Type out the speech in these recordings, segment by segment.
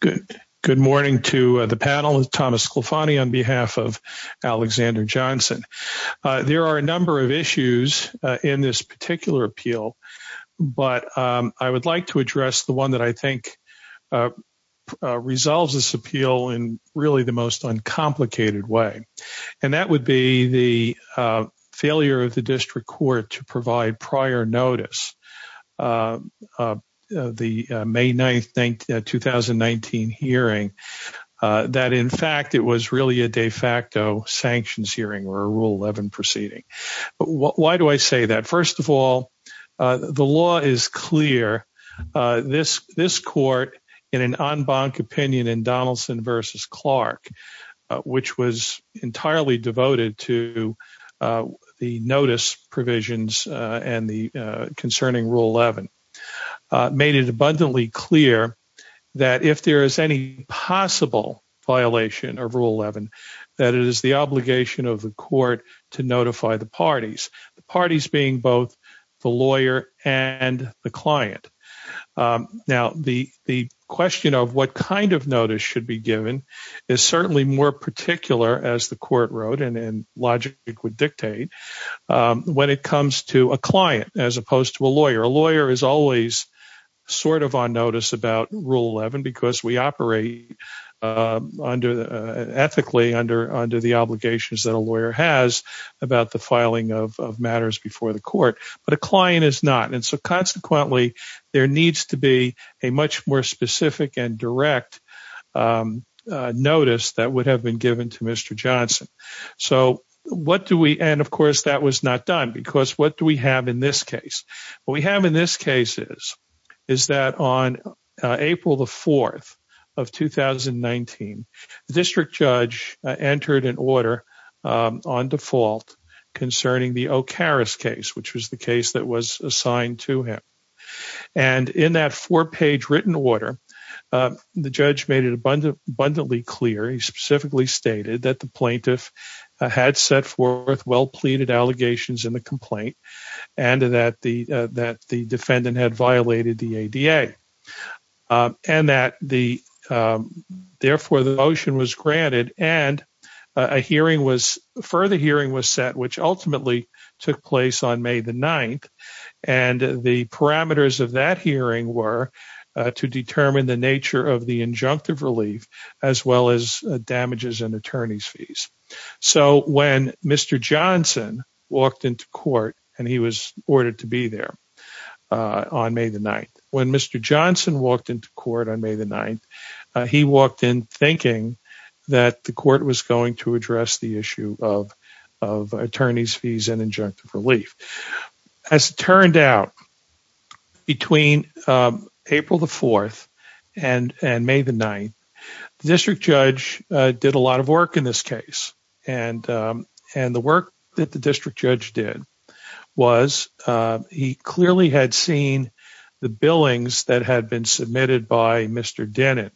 Good morning to the panel is Thomas Sklafanyi on behalf of Alexander Johnson. There are a number of issues in this particular appeal, but I would like to address the one that I think resolves this appeal in really the most uncomplicated way, and that would be the failure of the district court to provide prior notice to the district court. The May 9th 2019 hearing that, in fact, it was really a de facto sanctions hearing or a rule 11 proceeding. But why do I say that? First of all, the law is clear this this court in an en banc opinion in Donaldson versus Clark, which was entirely devoted to the notice provisions and the concerning rule 11 made it abundantly clear. That if there is any possible violation of rule 11, that it is the obligation of the court to notify the parties, the parties being both the lawyer and the client. Now, the the question of what kind of notice should be given is certainly more particular, as the court wrote and logic would dictate when it comes to a client as opposed to a lawyer. A lawyer is always sort of on notice about rule 11 because we operate under ethically under under the obligations that a lawyer has about the filing of matters before the court. But a client is not. And so consequently, there needs to be a much more specific and direct notice that would have been given to Mr. Johnson. So what do we and of course, that was not done because what do we have in this case? What we have in this case is, is that on April the 4th of 2019, the district judge entered an order on default concerning the O'Hara's case, which was the case that was assigned to him. And in that four page written order, the judge made it abundantly clear, he specifically stated that the plaintiff had set forth well pleaded allegations in the complaint and that the that the defendant had violated the ADA. And that the therefore the motion was granted and a hearing was further hearing was set, which ultimately took place on May the 9th. And the parameters of that hearing were to determine the nature of the injunctive relief, as well as damages and attorney's fees. So when Mr. Johnson walked into court and he was ordered to be there on May the 9th, when Mr. Johnson walked into court on May the 9th, he walked in thinking that the court was going to address the issue of of attorney's fees and injunctive relief. As it turned out, between April the 4th and May the 9th, the district judge did a lot of work in this case. And the work that the district judge did was he clearly had seen the billings that had been submitted by Mr. Dennett.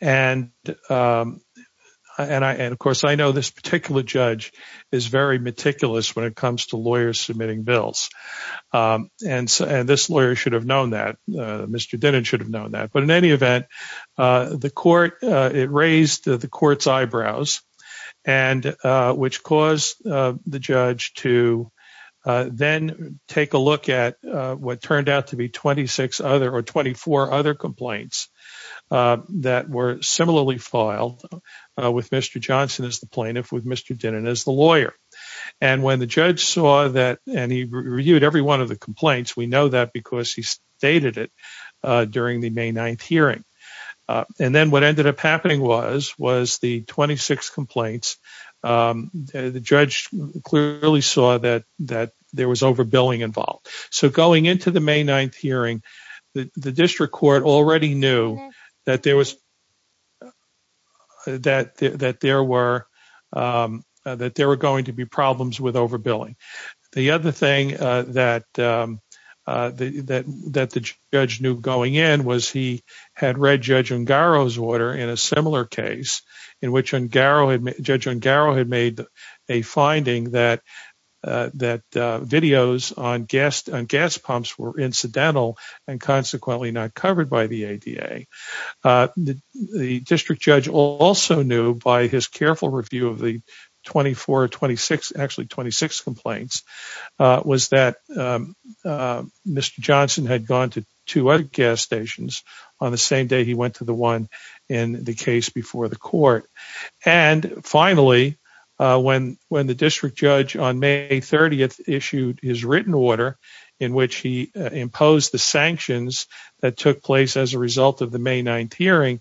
And of course, I know this particular judge is very meticulous when it comes to lawyers submitting bills. And this lawyer should have known that Mr. Dennett should have known that. But in any event, the court it raised the court's eyebrows and which caused the judge to then take a look at what turned out to be 26 other or 24 other complaints that were similarly filed with Mr. Johnson as the plaintiff with Mr. Dennett as the lawyer. And when the judge saw that and he reviewed every one of the complaints, we know that because he stated it during the May 9th hearing. And then what ended up happening was was the 26 complaints. The judge clearly saw that that there was overbilling involved. So going into the May 9th hearing, the district court already knew that there was that that there were that there were going to be problems with overbilling. The other thing that the judge knew going in was he had read Judge Ungaro's order in a similar case in which Judge Ungaro had made a finding that that videos on gas pumps were incidental and consequently not covered by the ADA. The district judge also knew by his careful review of the 24 or 26 actually 26 complaints was that Mr. Johnson had gone to two other gas stations on the same day he went to the one in the case before the court. And finally, when when the district judge on May 30th issued his written order in which he imposed the sanctions that took place as a result of the May 9th hearing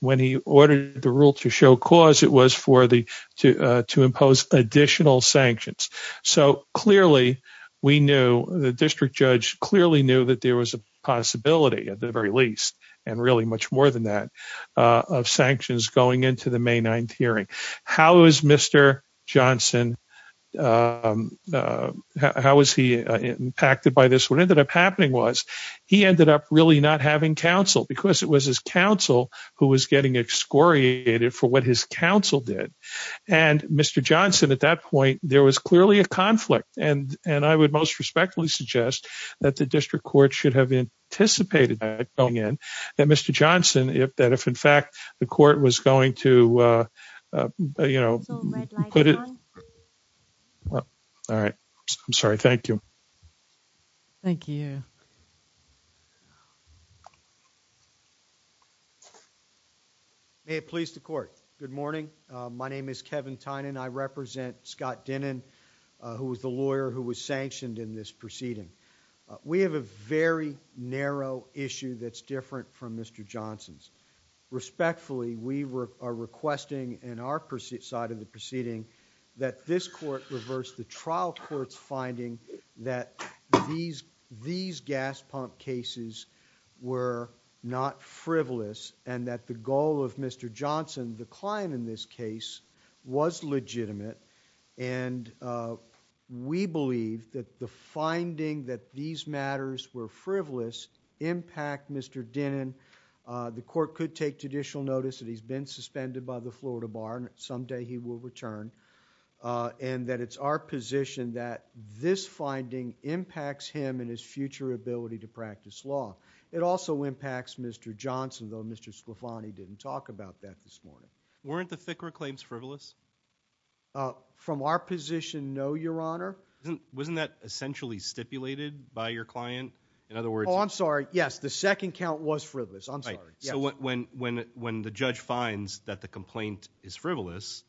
when he ordered the rule to show cause it was for the to to impose additional sanctions. So clearly we knew the district judge clearly knew that there was a possibility at the very least and really much more than that of sanctions going into the May 9th hearing. How is Mr. Johnson? How is he impacted by this? What ended up happening was he ended up really not having counsel because it was his counsel who was getting excoriated for what his counsel did. And Mr. Johnson at that point, there was clearly a conflict and and I would most respectfully suggest that the district court should have anticipated that going in that Mr. Johnson if that if in fact the court was going to, you know, put it. All right. I'm sorry. Thank you. Thank you. May it please the court. Good morning. My name is Kevin Tynan. I represent Scott Denon, who was the lawyer who was sanctioned in this proceeding. We have a very narrow issue that's different from Mr. Johnson's. Respectfully, we are requesting in our side of the proceeding that this court reverse the trial court's finding that these these gas pump cases were not frivolous and that the goal of Mr. Johnson, the client in this case, was legitimate. And we believe that the finding that these matters were frivolous impact Mr. Denon. The court could take judicial notice that he's been suspended by the Florida Bar and someday he will return and that it's our position that this finding impacts him and his future ability to practice law. It also impacts Mr. Johnson, though Mr. Slafani didn't talk about that this morning. Weren't the FICRA claims frivolous from our position? No, your honor. Wasn't that essentially stipulated by your client? In other words, I'm sorry. Yes. The second count was frivolous. I'm sorry. So when when when the judge finds that the complaint is frivolous,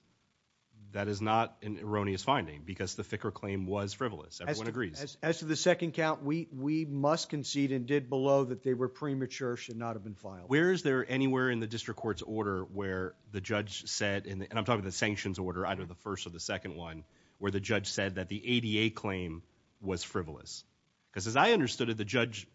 that is not an erroneous finding because the FICRA claim was frivolous. Everyone agrees. As to the second count, we we must concede and did below that they were premature, should not have been filed. Where is there anywhere in the district court's order where the judge said and I'm talking the sanctions order, either the first or the second one where the judge said that the ADA claim was frivolous? Because as I understood it, the judge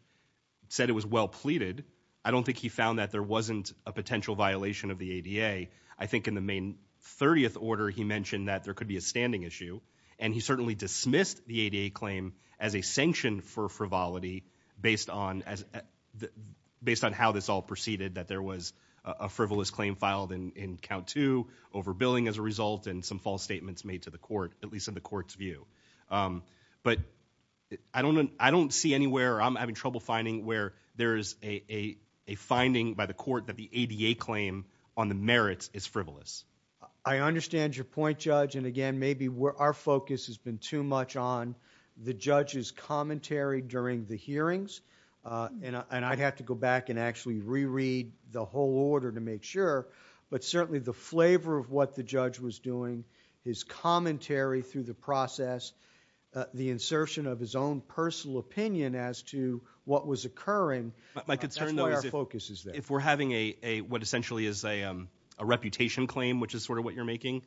said it was well pleaded. I don't think he found that there wasn't a potential violation of the ADA. I think in the main 30th order, he mentioned that there could be a standing issue. And he certainly dismissed the ADA claim as a sanction for frivolity based on as based on how this all proceeded, that there was a frivolous claim filed in count to overbilling as a result and some false statements made to the court, at least in the court's view. But I don't see anywhere I'm having trouble finding where there is a finding by the court that the ADA claim on the merits is frivolous. I understand your point, Judge. And again, maybe our focus has been too much on the judge's commentary during the hearings. And I'd have to go back and actually reread the whole order to make sure. But certainly the flavor of what the judge was doing, his commentary through the process, the insertion of his own personal opinion as to what was occurring, that's why our focus is there. If we're having what essentially is a reputation claim, which is sort of what you're making,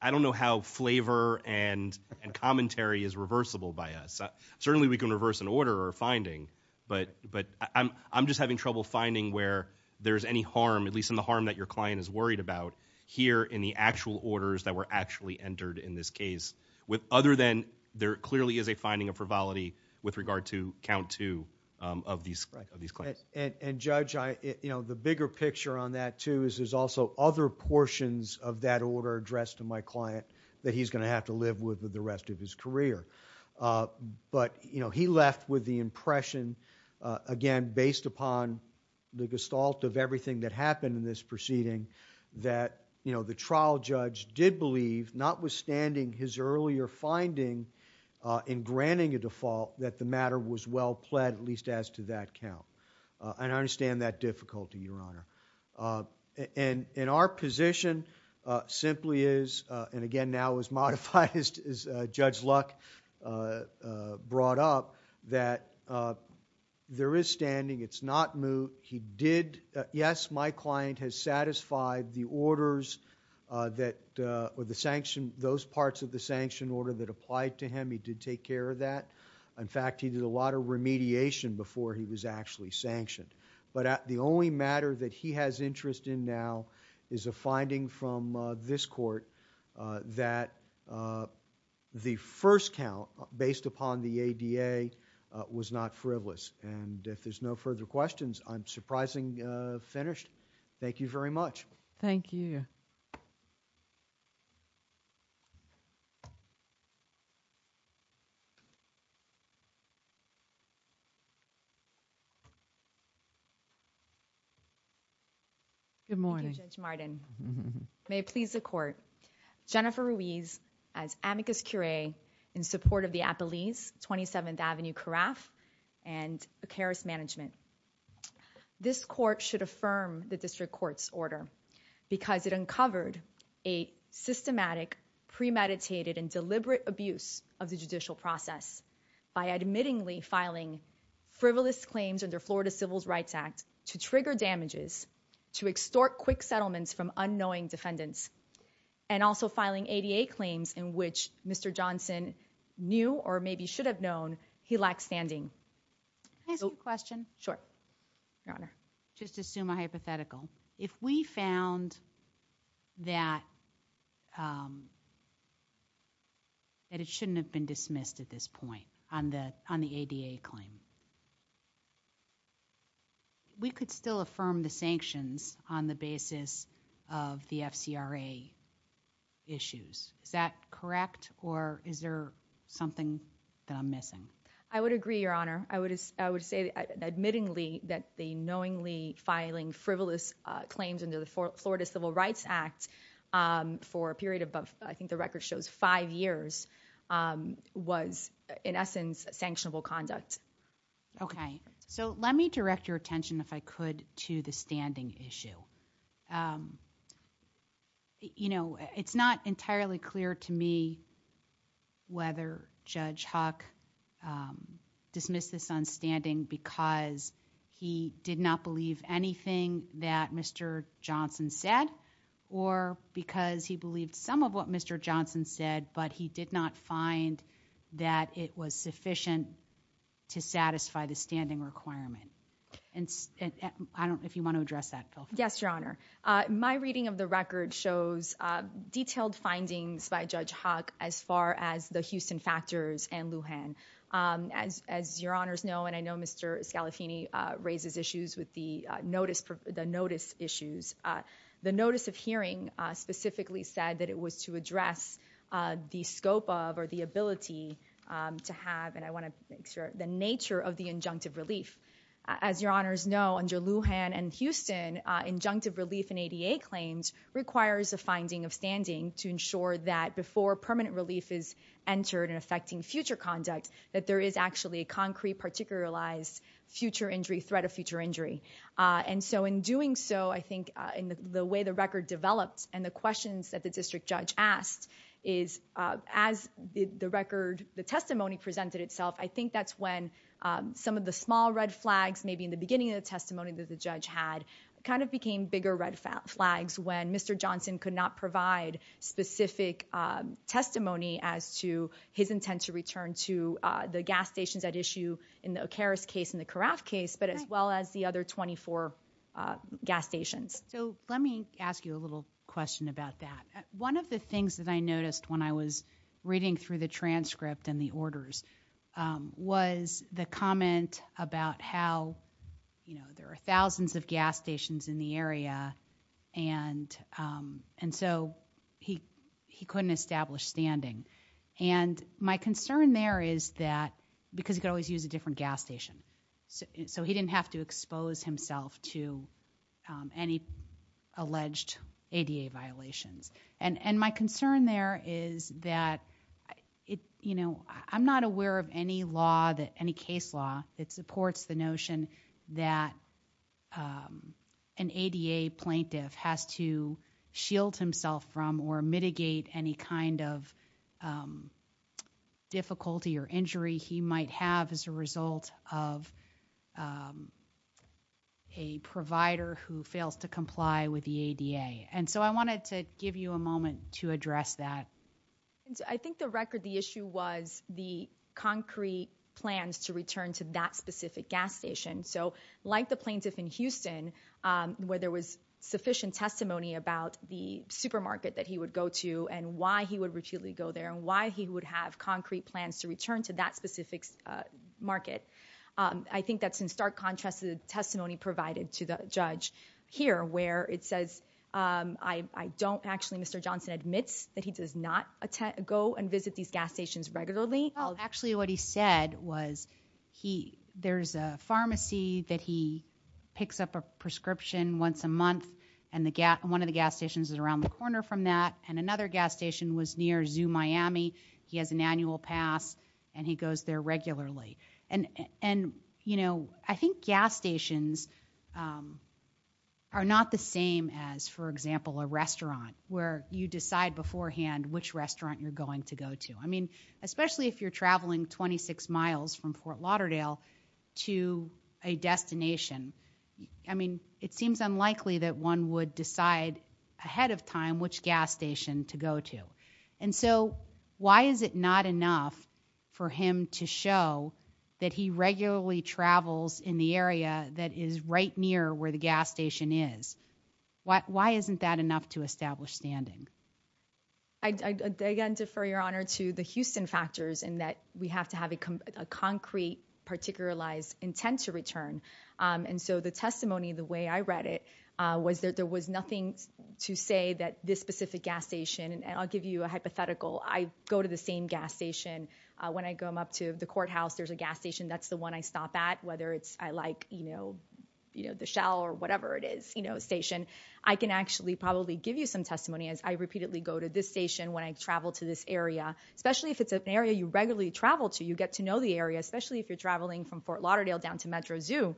I don't know how flavor and commentary is reversible by us. Certainly we can reverse an order or a finding, but I'm just having trouble finding where there's any harm, at least in the harm that your client is worried about, here in the actual orders that were actually entered in this case, other than there clearly is a finding of frivolity with regard to count to of these claims. And Judge, the bigger picture on that too is there's also other portions of that order addressed to my client that he's going to have to live with for the rest of his career. But he left with the impression, again, based upon the gestalt of everything that happened in this proceeding, that the trial judge did believe, notwithstanding his earlier finding in granting a default, that the matter was well pled, at least as to that count. And I understand that difficulty, Your Honor. And our position simply is, and again, now as modified as Judge Luck brought up, that there is standing. It's not moot. He did, yes, my client has satisfied the orders or those parts of the sanction order that applied to him. He did take care of that. In fact, he did a lot of remediation before he was actually sanctioned. But the only matter that he has interest in now is a finding from this court that the first count, based upon the ADA, was not frivolous. And if there's no further questions, I'm surprisingly finished. Thank you very much. Thank you. Good morning. Thank you, Judge Martin. May it please the court. Jennifer Ruiz, as amicus curiae, in support of the Appalese, 27th Avenue Carafe, and the Karis Management. This court should affirm the district court's order, because it uncovered a systematic, premeditated, and deliberate abuse of the judicial process by admittingly filing frivolous claims under Florida Civil Rights Act to trigger damages, to extort quick settlements from unknowing defendants, and also filing ADA claims in which Mr. Johnson knew or maybe should have known he lacked standing. Can I ask you a question? Sure. Your Honor. Just to assume a hypothetical. If we found that it shouldn't have been dismissed at this point on the ADA claim, we could still affirm the sanctions on the basis of the FCRA issues. Is that correct, or is there something that I'm missing? Your Honor, I would say admittingly that the knowingly filing frivolous claims under the Florida Civil Rights Act for a period above, I think the record shows five years, was, in essence, sanctionable conduct. Okay. So let me direct your attention, if I could, to the standing issue. You know, it's not entirely clear to me whether Judge Huck dismissed this on standing because he did not believe anything that Mr. Johnson said, or because he believed some of what Mr. Johnson said, but he did not find that it was sufficient to satisfy the standing requirement. If you want to address that, Phil. Yes, Your Honor. My reading of the record shows detailed findings by Judge Huck as far as the Houston factors and Lujan. As your Honors know, and I know Mr. Scalafini raises issues with the notice issues, the notice of hearing specifically said that it was to address the scope of or the ability to have, and I want to make sure, the nature of the injunctive relief. As your Honors know, under Lujan and Houston, injunctive relief in ADA claims requires a finding of standing to ensure that before permanent relief is entered and affecting future conduct, that there is actually a concrete, particularized future injury, threat of future injury. And so in doing so, I think in the way the record developed and the questions that the district judge asked is, as the record, the testimony presented itself, I think that's when some of the small red flags maybe in the beginning of the testimony that the judge had kind of became bigger red flags when Mr. Johnson could not provide specific testimony as to his intent to return to the gas stations at issue in the O'Karras case and the Karaf case, but as well as the other 24 gas stations. So let me ask you a little question about that. One of the things that I noticed when I was reading through the transcript and the orders was the comment about how, you know, there are thousands of gas stations in the area and so he couldn't establish standing. And my concern there is that because he could always use a different gas station. So he didn't have to expose himself to any alleged ADA violations. And my concern there is that, you know, I'm not aware of any case law that supports the notion that an ADA plaintiff has to shield himself from or mitigate any kind of difficulty or injury he might have as a result of a provider who fails to comply with the ADA. And so I wanted to give you a moment to address that. I think the record the issue was the concrete plans to return to that specific gas station. So like the plaintiff in Houston, where there was sufficient testimony about the supermarket that he would go to and why he would repeatedly go there and why he would have concrete plans to return to that specific market. I think that's in stark contrast to the testimony provided to the judge here where it says I don't actually Mr. Johnson admits that he does not go and visit these gas stations regularly. Actually, what he said was he there's a pharmacy that he picks up a prescription once a month and the gap. One of the gas stations is around the corner from that. And another gas station was near Zoo Miami. He has an annual pass and he goes there regularly. And, you know, I think gas stations are not the same as, for example, a restaurant where you decide beforehand which restaurant you're going to go to. I mean, especially if you're traveling 26 miles from Fort Lauderdale to a destination. I mean, it seems unlikely that one would decide ahead of time which gas station to go to. And so why is it not enough for him to show that he regularly travels in the area that is right near where the gas station is? Why isn't that enough to establish standing? Again, defer your honor to the Houston factors and that we have to have a concrete, particular lies intent to return. And so the testimony the way I read it was that there was nothing to say that this specific gas station and I'll give you a hypothetical. I go to the same gas station when I go up to the courthouse. There's a gas station. That's the one I stop at. Whether it's I like, you know, you know, the shower or whatever it is, you know, station. I can actually probably give you some testimony as I repeatedly go to this station when I travel to this area, especially if it's an area you regularly travel to. You get to know the area, especially if you're traveling from Fort Lauderdale down to Metro Zoo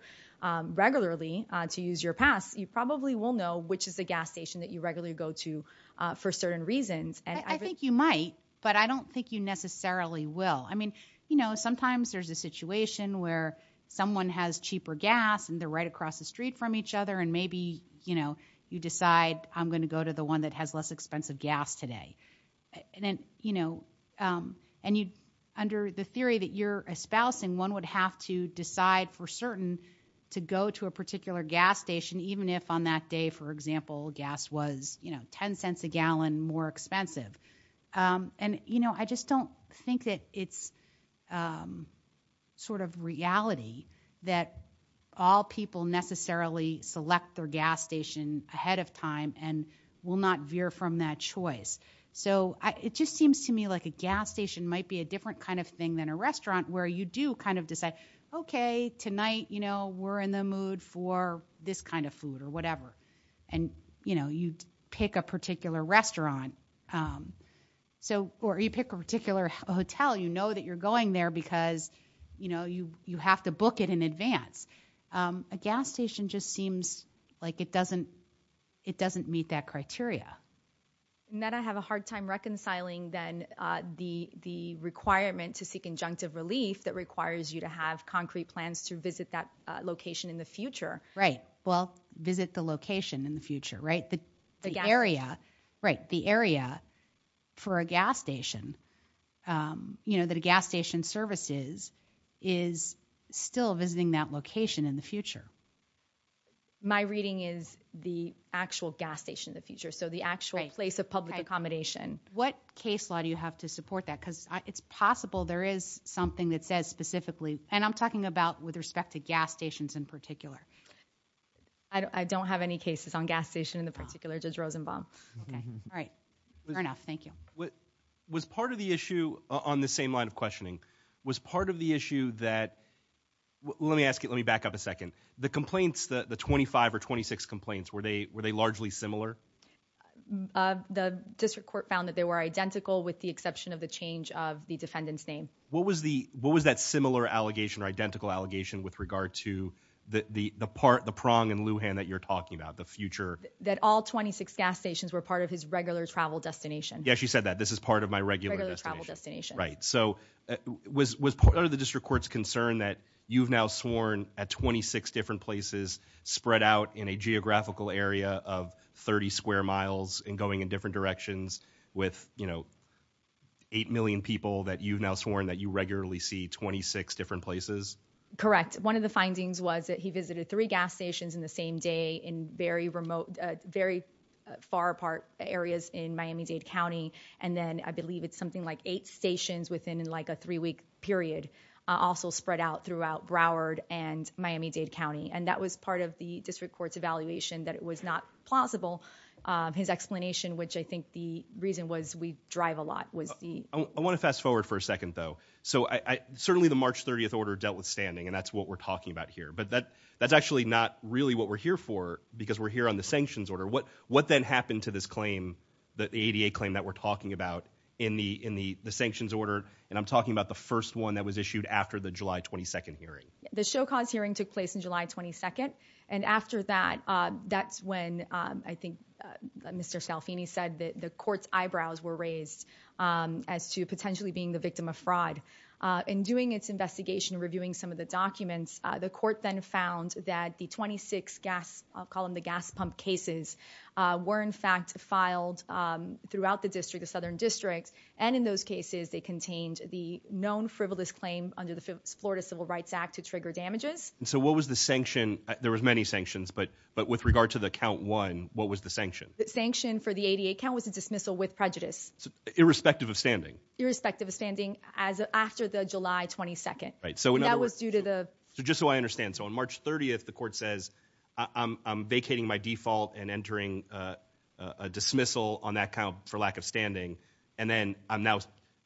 regularly to use your pass. You probably will know which is the gas station that you regularly go to for certain reasons. And I think you might. But I don't think you necessarily will. I mean, you know, sometimes there's a situation where someone has cheaper gas and they're right across the street from each other. And maybe, you know, you decide I'm going to go to the one that has less expensive gas today. You know, and you under the theory that you're espousing, one would have to decide for certain to go to a particular gas station, even if on that day, for example, gas was, you know, 10 cents a gallon more expensive. And, you know, I just don't think that it's sort of reality that all people necessarily select their gas station ahead of time and will not veer from that choice. So it just seems to me like a gas station might be a different kind of thing than a restaurant where you do kind of decide, OK, tonight, you know, we're in the mood for this kind of food or whatever. And, you know, you pick a particular restaurant so or you pick a particular hotel. You know that you're going there because, you know, you you have to book it in advance. A gas station just seems like it doesn't it doesn't meet that criteria. And then I have a hard time reconciling then the the requirement to seek injunctive relief that requires you to have concrete plans to visit that location in the future. Right. Well, visit the location in the future. Right. The area. Right. The area for a gas station, you know, that a gas station services is still visiting that location in the future. My reading is the actual gas station in the future. So the actual place of public accommodation, what case law do you have to support that? Because it's possible there is something that says specifically. And I'm talking about with respect to gas stations in particular. I don't have any cases on gas station in the particular just Rosenbaum. All right. Enough. Thank you. What was part of the issue on the same line of questioning was part of the issue that. Let me ask you, let me back up a second. The complaints, the 25 or 26 complaints, were they were they largely similar? The district court found that they were identical with the exception of the change of the defendant's name. What was the what was that similar allegation or identical allegation with regard to the part, the prong in Lujan that you're talking about, the future? That all 26 gas stations were part of his regular travel destination. Yeah, she said that this is part of my regular travel destination. Right. So was was part of the district court's concern that you've now sworn at 26 different places spread out in a geographical area of 30 square miles and going in different directions with, you know. Eight million people that you've now sworn that you regularly see 26 different places. Correct. One of the findings was that he visited three gas stations in the same day in very remote, very far apart areas in Miami-Dade County. And then I believe it's something like eight stations within like a three week period also spread out throughout Broward and Miami-Dade County. And that was part of the district court's evaluation that it was not plausible. His explanation, which I think the reason was we drive a lot, was the. I want to fast forward for a second, though. So I certainly the March 30th order dealt with standing and that's what we're talking about here. But that that's actually not really what we're here for because we're here on the sanctions order. What what then happened to this claim that the ADA claim that we're talking about in the in the sanctions order? And I'm talking about the first one that was issued after the July 22nd hearing. The show cause hearing took place in July 22nd. And after that, that's when I think Mr. Salfini said that the court's eyebrows were raised as to potentially being the victim of fraud. In doing its investigation, reviewing some of the documents, the court then found that the 26 gas column, the gas pump cases were in fact filed throughout the district, the southern district. And in those cases, they contained the known frivolous claim under the Florida Civil Rights Act to trigger damages. And so what was the sanction? There was many sanctions, but but with regard to the count one, what was the sanction? The sanction for the ADA count was a dismissal with prejudice, irrespective of standing, irrespective of standing. As after the July 22nd. Right. So that was due to the just so I understand. So on March 30th, the court says I'm vacating my default and entering a dismissal on that count for lack of standing. And then I'm now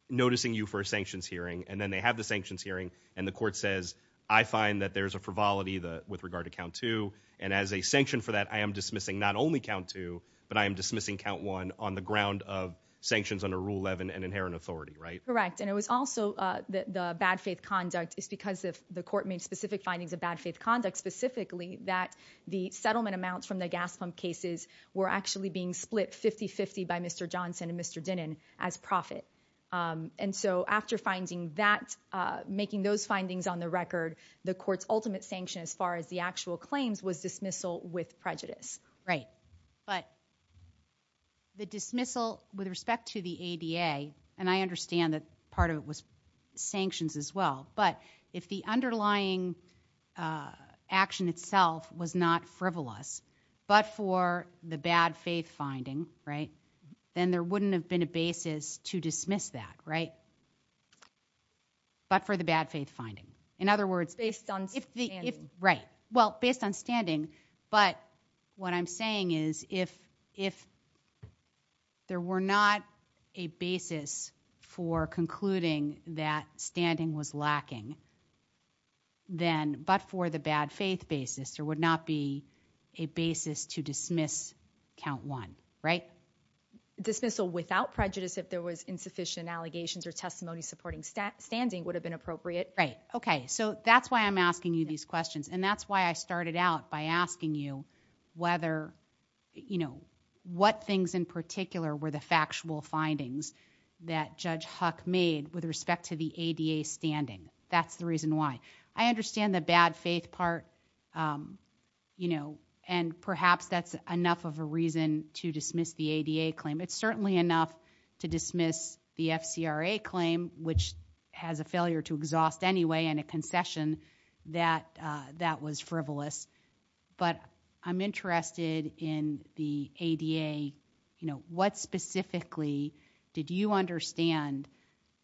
noticing you for a sanctions hearing. And then they have the sanctions hearing. And the court says, I find that there's a frivolity with regard to count two. And as a sanction for that, I am dismissing not only count two, but I am dismissing count one on the ground of sanctions under Rule 11 and inherent authority. Right. And it was also the bad faith conduct is because of the court made specific findings of bad faith conduct, specifically that the settlement amounts from the gas pump cases were actually being split 50 50 by Mr. Johnson and Mr. Denon as profit. And so after finding that, making those findings on the record, the court's ultimate sanction as far as the actual claims was dismissal with prejudice. Right. But. The dismissal with respect to the ADA, and I understand that part of it was sanctions as well, but if the underlying action itself was not frivolous, but for the bad faith finding. Right. Then there wouldn't have been a basis to dismiss that. Right. But for the bad faith finding, in other words, based on. Right. Well, based on standing. But what I'm saying is if if. There were not a basis for concluding that standing was lacking. Then, but for the bad faith basis, there would not be a basis to dismiss count one. Right. Dismissal without prejudice, if there was insufficient allegations or testimony supporting stat standing would have been appropriate. Right. OK. So that's why I'm asking you these questions. And that's why I started out by asking you whether, you know, what things in particular were the factual findings that Judge Huck made with respect to the ADA standing? That's the reason why I understand the bad faith part, you know, and perhaps that's enough of a reason to dismiss the ADA claim. It's certainly enough to dismiss the FCRA claim, which has a failure to exhaust anyway. And a concession that that was frivolous. But I'm interested in the ADA. You know, what specifically did you understand,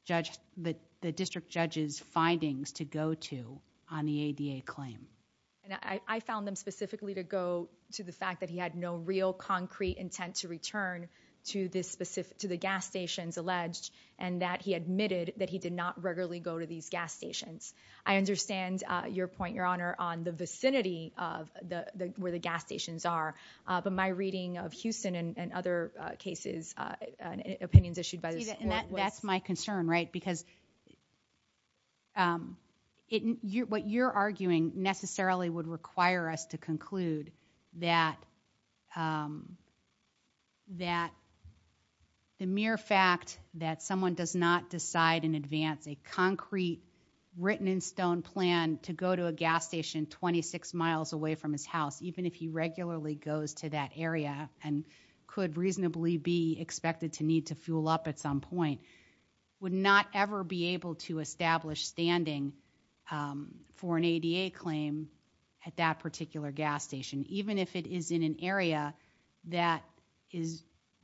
Judge, that the district judge's findings to go to on the ADA claim? And I found them specifically to go to the fact that he had no real concrete intent to return to this specific to the gas stations alleged, and that he admitted that he did not regularly go to these gas stations. I understand your point, Your Honor, on the vicinity of the where the gas stations are. But my reading of Houston and other cases, opinions issued by the. That's my concern. Right. Because. What you're arguing necessarily would require us to conclude that. That. The mere fact that someone does not decide in advance a concrete written in stone plan to go to a gas station 26 miles away from his house, even if he regularly goes to that area and could reasonably be expected to need to fuel up at some point, would not ever be able to establish standing for an ADA claim at that particular gas station, even if it is in an area that is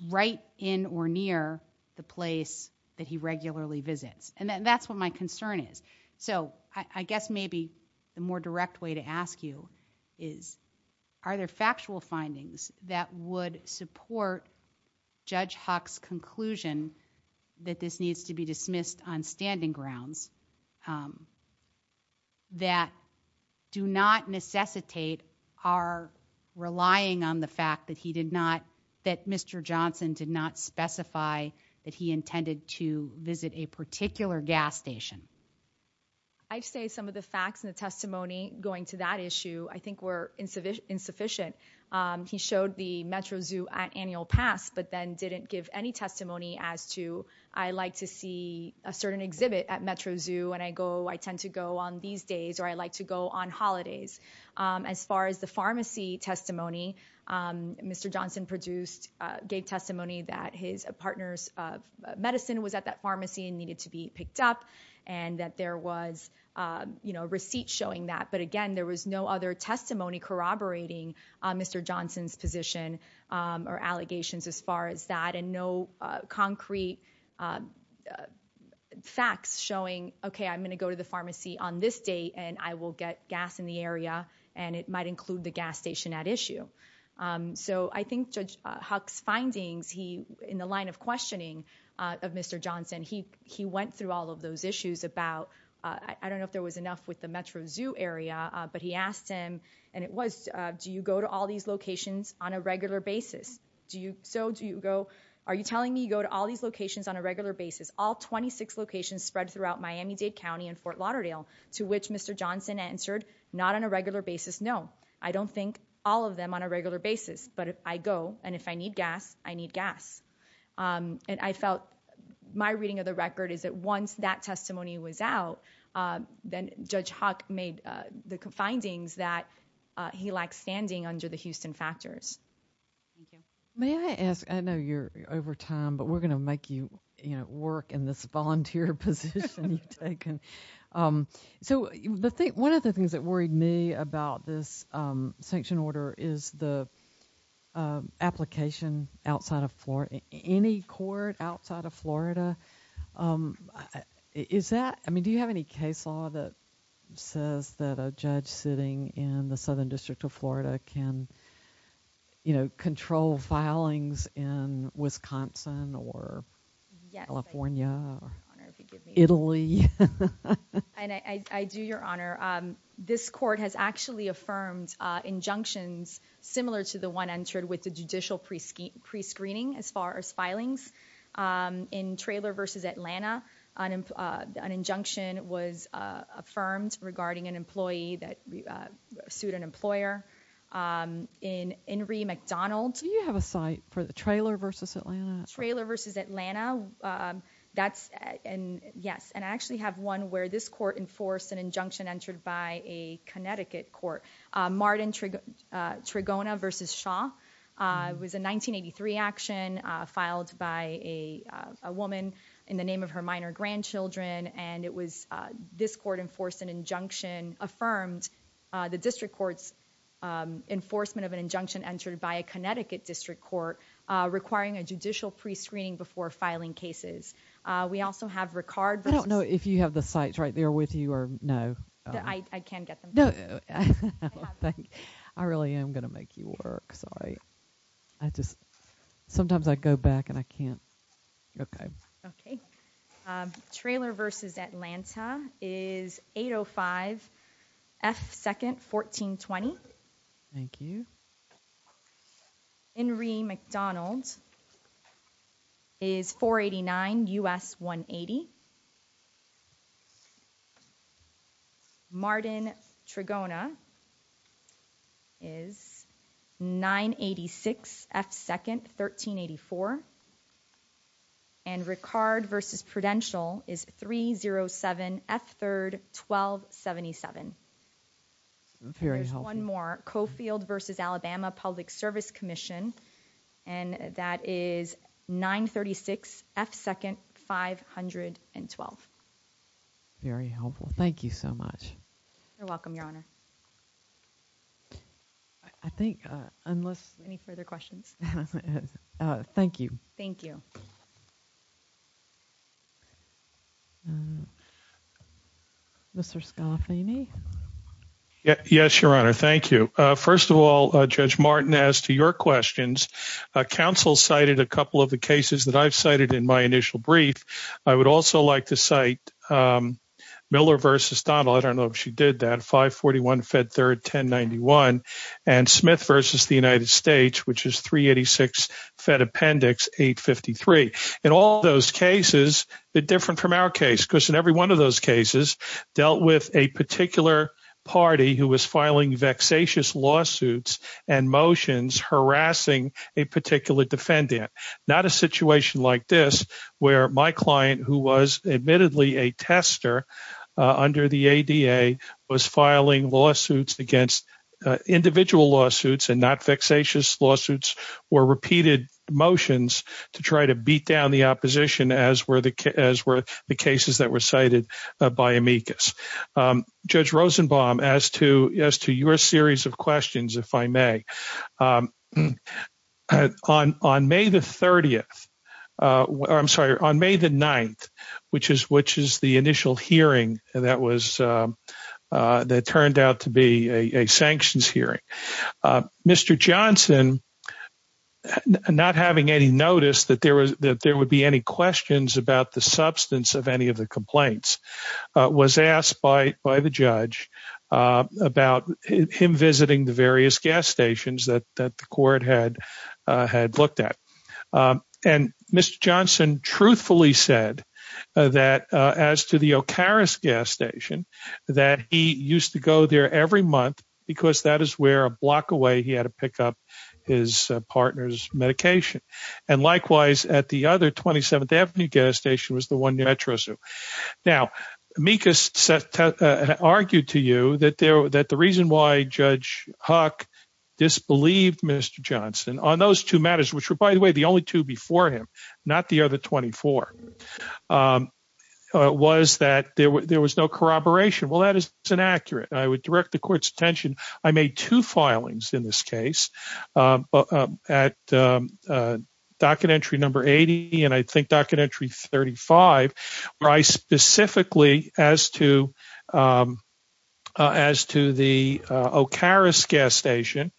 right in or near the place that he regularly visits. And that's what my concern is. So I guess maybe the more direct way to ask you is, are there factual findings that would support Judge Huck's conclusion that this needs to be dismissed on standing grounds? That do not necessitate are relying on the fact that he did not that Mr. Johnson did not specify that he intended to visit a particular gas station. I'd say some of the facts and the testimony going to that issue, I think, were insufficient, insufficient. But he showed the Metro Zoo at annual pass, but then didn't give any testimony as to. I like to see a certain exhibit at Metro Zoo and I go I tend to go on these days or I like to go on holidays. As far as the pharmacy testimony, Mr. Johnson produced gave testimony that his partners of medicine was at that pharmacy and needed to be picked up. And that there was a receipt showing that. But again, there was no other testimony corroborating Mr. Johnson's position or allegations as far as that and no concrete facts showing, OK, I'm going to go to the pharmacy on this day and I will get gas in the area and it might include the gas station at issue. So I think Judge Huck's findings he in the line of questioning of Mr. Johnson, he he went through all of those issues about I don't know if there was enough with the Metro Zoo area, but he asked him and it was do you go to all these locations on a regular basis? Do you? So do you go? Are you telling me you go to all these locations on a regular basis? All 26 locations spread throughout Miami-Dade County and Fort Lauderdale, to which Mr. Johnson answered not on a regular basis. No, I don't think all of them on a regular basis. But if I go and if I need gas, I need gas. And I felt my reading of the record is that once that testimony was out, then Judge Huck made the findings that he lacked standing under the Houston factors. May I ask? I know you're over time, but we're going to make you work in this volunteer position taken. So one of the things that worried me about this sanction order is the application outside of any court outside of Florida. Is that I mean, do you have any case law that says that a judge sitting in the southern district of Florida can, you know, control filings in Wisconsin or California, Italy? And I do, Your Honor. This court has actually affirmed injunctions similar to the one entered with the judicial prescreening. As far as filings in Traylor versus Atlanta, an injunction was affirmed regarding an employee that sued an employer. In Henry McDonald. Do you have a site for the Traylor versus Atlanta? Traylor versus Atlanta. That's and yes. And I actually have one where this court enforced an injunction entered by a Connecticut court. Martin Trigona versus Shaw was a 1983 action filed by a woman in the name of her minor grandchildren. And it was this court enforced an injunction affirmed the district court's enforcement of an injunction entered by a Connecticut district court requiring a judicial prescreening before filing cases. We also have Ricard. I don't know if you have the sites right there with you or no. I can get them. No, I really am going to make you work. Sorry. I just sometimes I go back and I can't. Okay. Okay. Traylor versus Atlanta is 805 F second 1420. Thank you. Henry McDonald is 489 US 180. Martin Trigona is 986 F second 1384 and Ricard versus Prudential is 307 F third 1277. Very helpful. One more Cofield versus Alabama Public Service Commission. And that is nine thirty six F second five hundred and twelve. Very helpful. Thank you so much. You're welcome, Your Honor. I think unless any further questions. Thank you. Thank you. Mr. Scoff, Amy. Yes, Your Honor. Thank you. First of all, Judge Martin, as to your questions, counsel cited a couple of the cases that I've cited in my initial brief. I would also like to cite Miller versus Donald. I don't know if she did that. Five forty one Fed third ten ninety one. And Smith versus the United States, which is three eighty six Fed appendix eight fifty three. And all those cases are different from our case because in every one of those cases dealt with a particular party who was filing vexatious lawsuits and motions harassing a particular defendant. Not a situation like this where my client, who was admittedly a tester under the ADA, was filing lawsuits against individual lawsuits and not vexatious lawsuits or repeated motions to try to beat down the opposition, as were the as were the cases that were cited by amicus. Judge Rosenbaum, as to as to your series of questions, if I may. On on May the 30th. I'm sorry. On May the 9th, which is which is the initial hearing. And that was that turned out to be a sanctions hearing. Mr. Johnson not having any notice that there was that there would be any questions about the substance of any of the complaints was asked by by the judge about him visiting the various gas stations. That that the court had had looked at. And Mr. Johnson truthfully said that as to the Okaris gas station, that he used to go there every month because that is where a block away he had to pick up his partner's medication. And likewise, at the other 27th, every gas station was the one that trust. Now, amicus argued to you that that the reason why Judge Huck disbelieved Mr. Johnson on those two matters, which were, by the way, the only two before him, not the other 24, was that there was no corroboration. Well, that is inaccurate. I would direct the court's attention. I made two filings in this case at docket entry number 80 and I think docket entry 35. I specifically as to as to the Okaris gas station,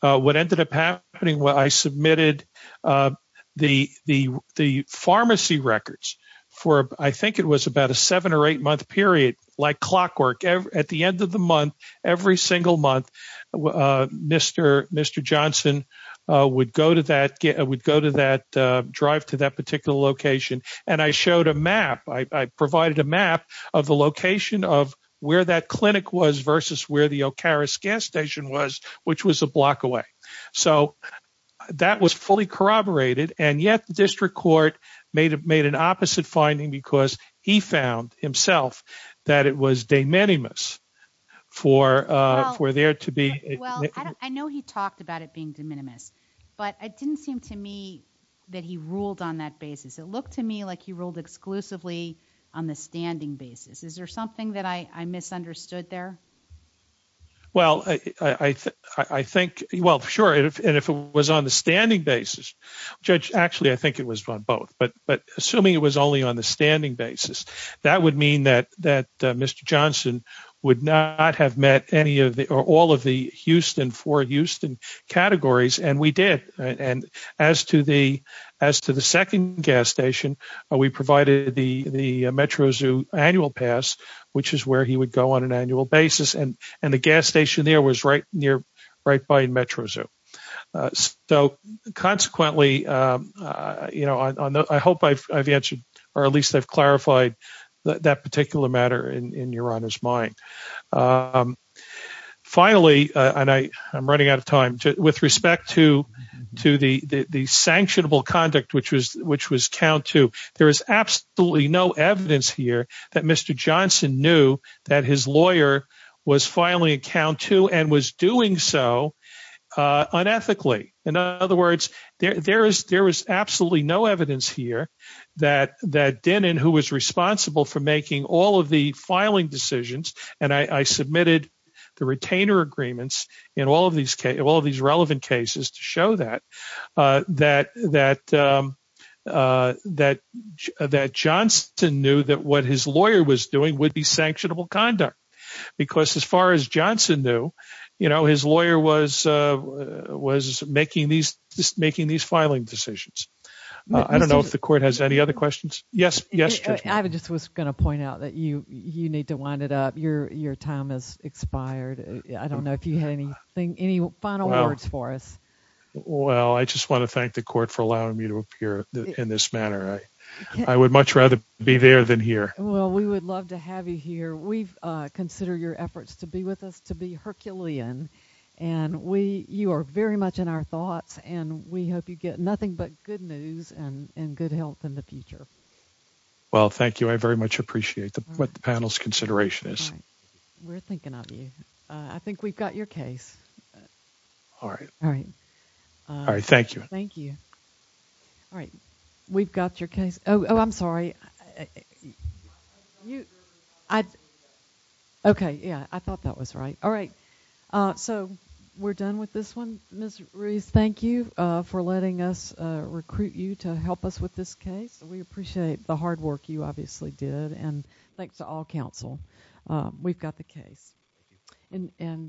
what ended up happening? Well, I submitted the the the pharmacy records for I think it was about a seven or eight month period like clockwork at the end of the month. Every single month, Mr. Mr. Johnson would go to that, would go to that drive to that particular location. And I showed a map. I provided a map of the location of where that clinic was versus where the Okaris gas station was, which was a block away. So that was fully corroborated. And yet the district court made it made an opposite finding because he found himself that it was de minimis for for there to be. Well, I know he talked about it being de minimis, but it didn't seem to me that he ruled on that basis. It looked to me like he ruled exclusively on the standing basis. Is there something that I misunderstood there? Well, I think well, sure. And if it was on the standing basis, judge, actually, I think it was on both. But but assuming it was only on the standing basis, that would mean that that Mr. Johnson would not have met any of the or all of the Houston for Houston categories. And we did. And as to the as to the second gas station, we provided the the Metro Zoo annual pass, which is where he would go on an annual basis. And and the gas station there was right near right by Metro Zoo. So consequently, you know, I hope I've answered or at least I've clarified that particular matter in your honor's mind. Finally, and I I'm running out of time with respect to to the the sanctionable conduct, which was which was count to. There is absolutely no evidence here that Mr. Johnson knew that his lawyer was filing a count to and was doing so unethically. In other words, there is there is absolutely no evidence here that that Denon, who was responsible for making all of the filing decisions. And I submitted the retainer agreements in all of these all of these relevant cases to show that that that that that Johnson knew that what his lawyer was doing would be sanctionable conduct. Because as far as Johnson knew, you know, his lawyer was was making these making these filing decisions. I don't know if the court has any other questions. Yes. Yes. I just was going to point out that you you need to wind it up. Your your time has expired. I don't know if you have anything. Any final words for us? Well, I just want to thank the court for allowing me to appear in this manner. I would much rather be there than here. Well, we would love to have you here. We consider your efforts to be with us to be Herculean. And we you are very much in our thoughts and we hope you get nothing but good news and good health in the future. Well, thank you. I very much appreciate what the panel's consideration is. We're thinking of you. I think we've got your case. All right. All right. All right. Thank you. Thank you. All right. We've got your case. Oh, I'm sorry. I. OK. Yeah, I thought that was right. All right. So we're done with this one. Mr. Ruiz, thank you for letting us recruit you to help us with this case. We appreciate the hard work you obviously did. And thanks to all counsel. We've got the case and.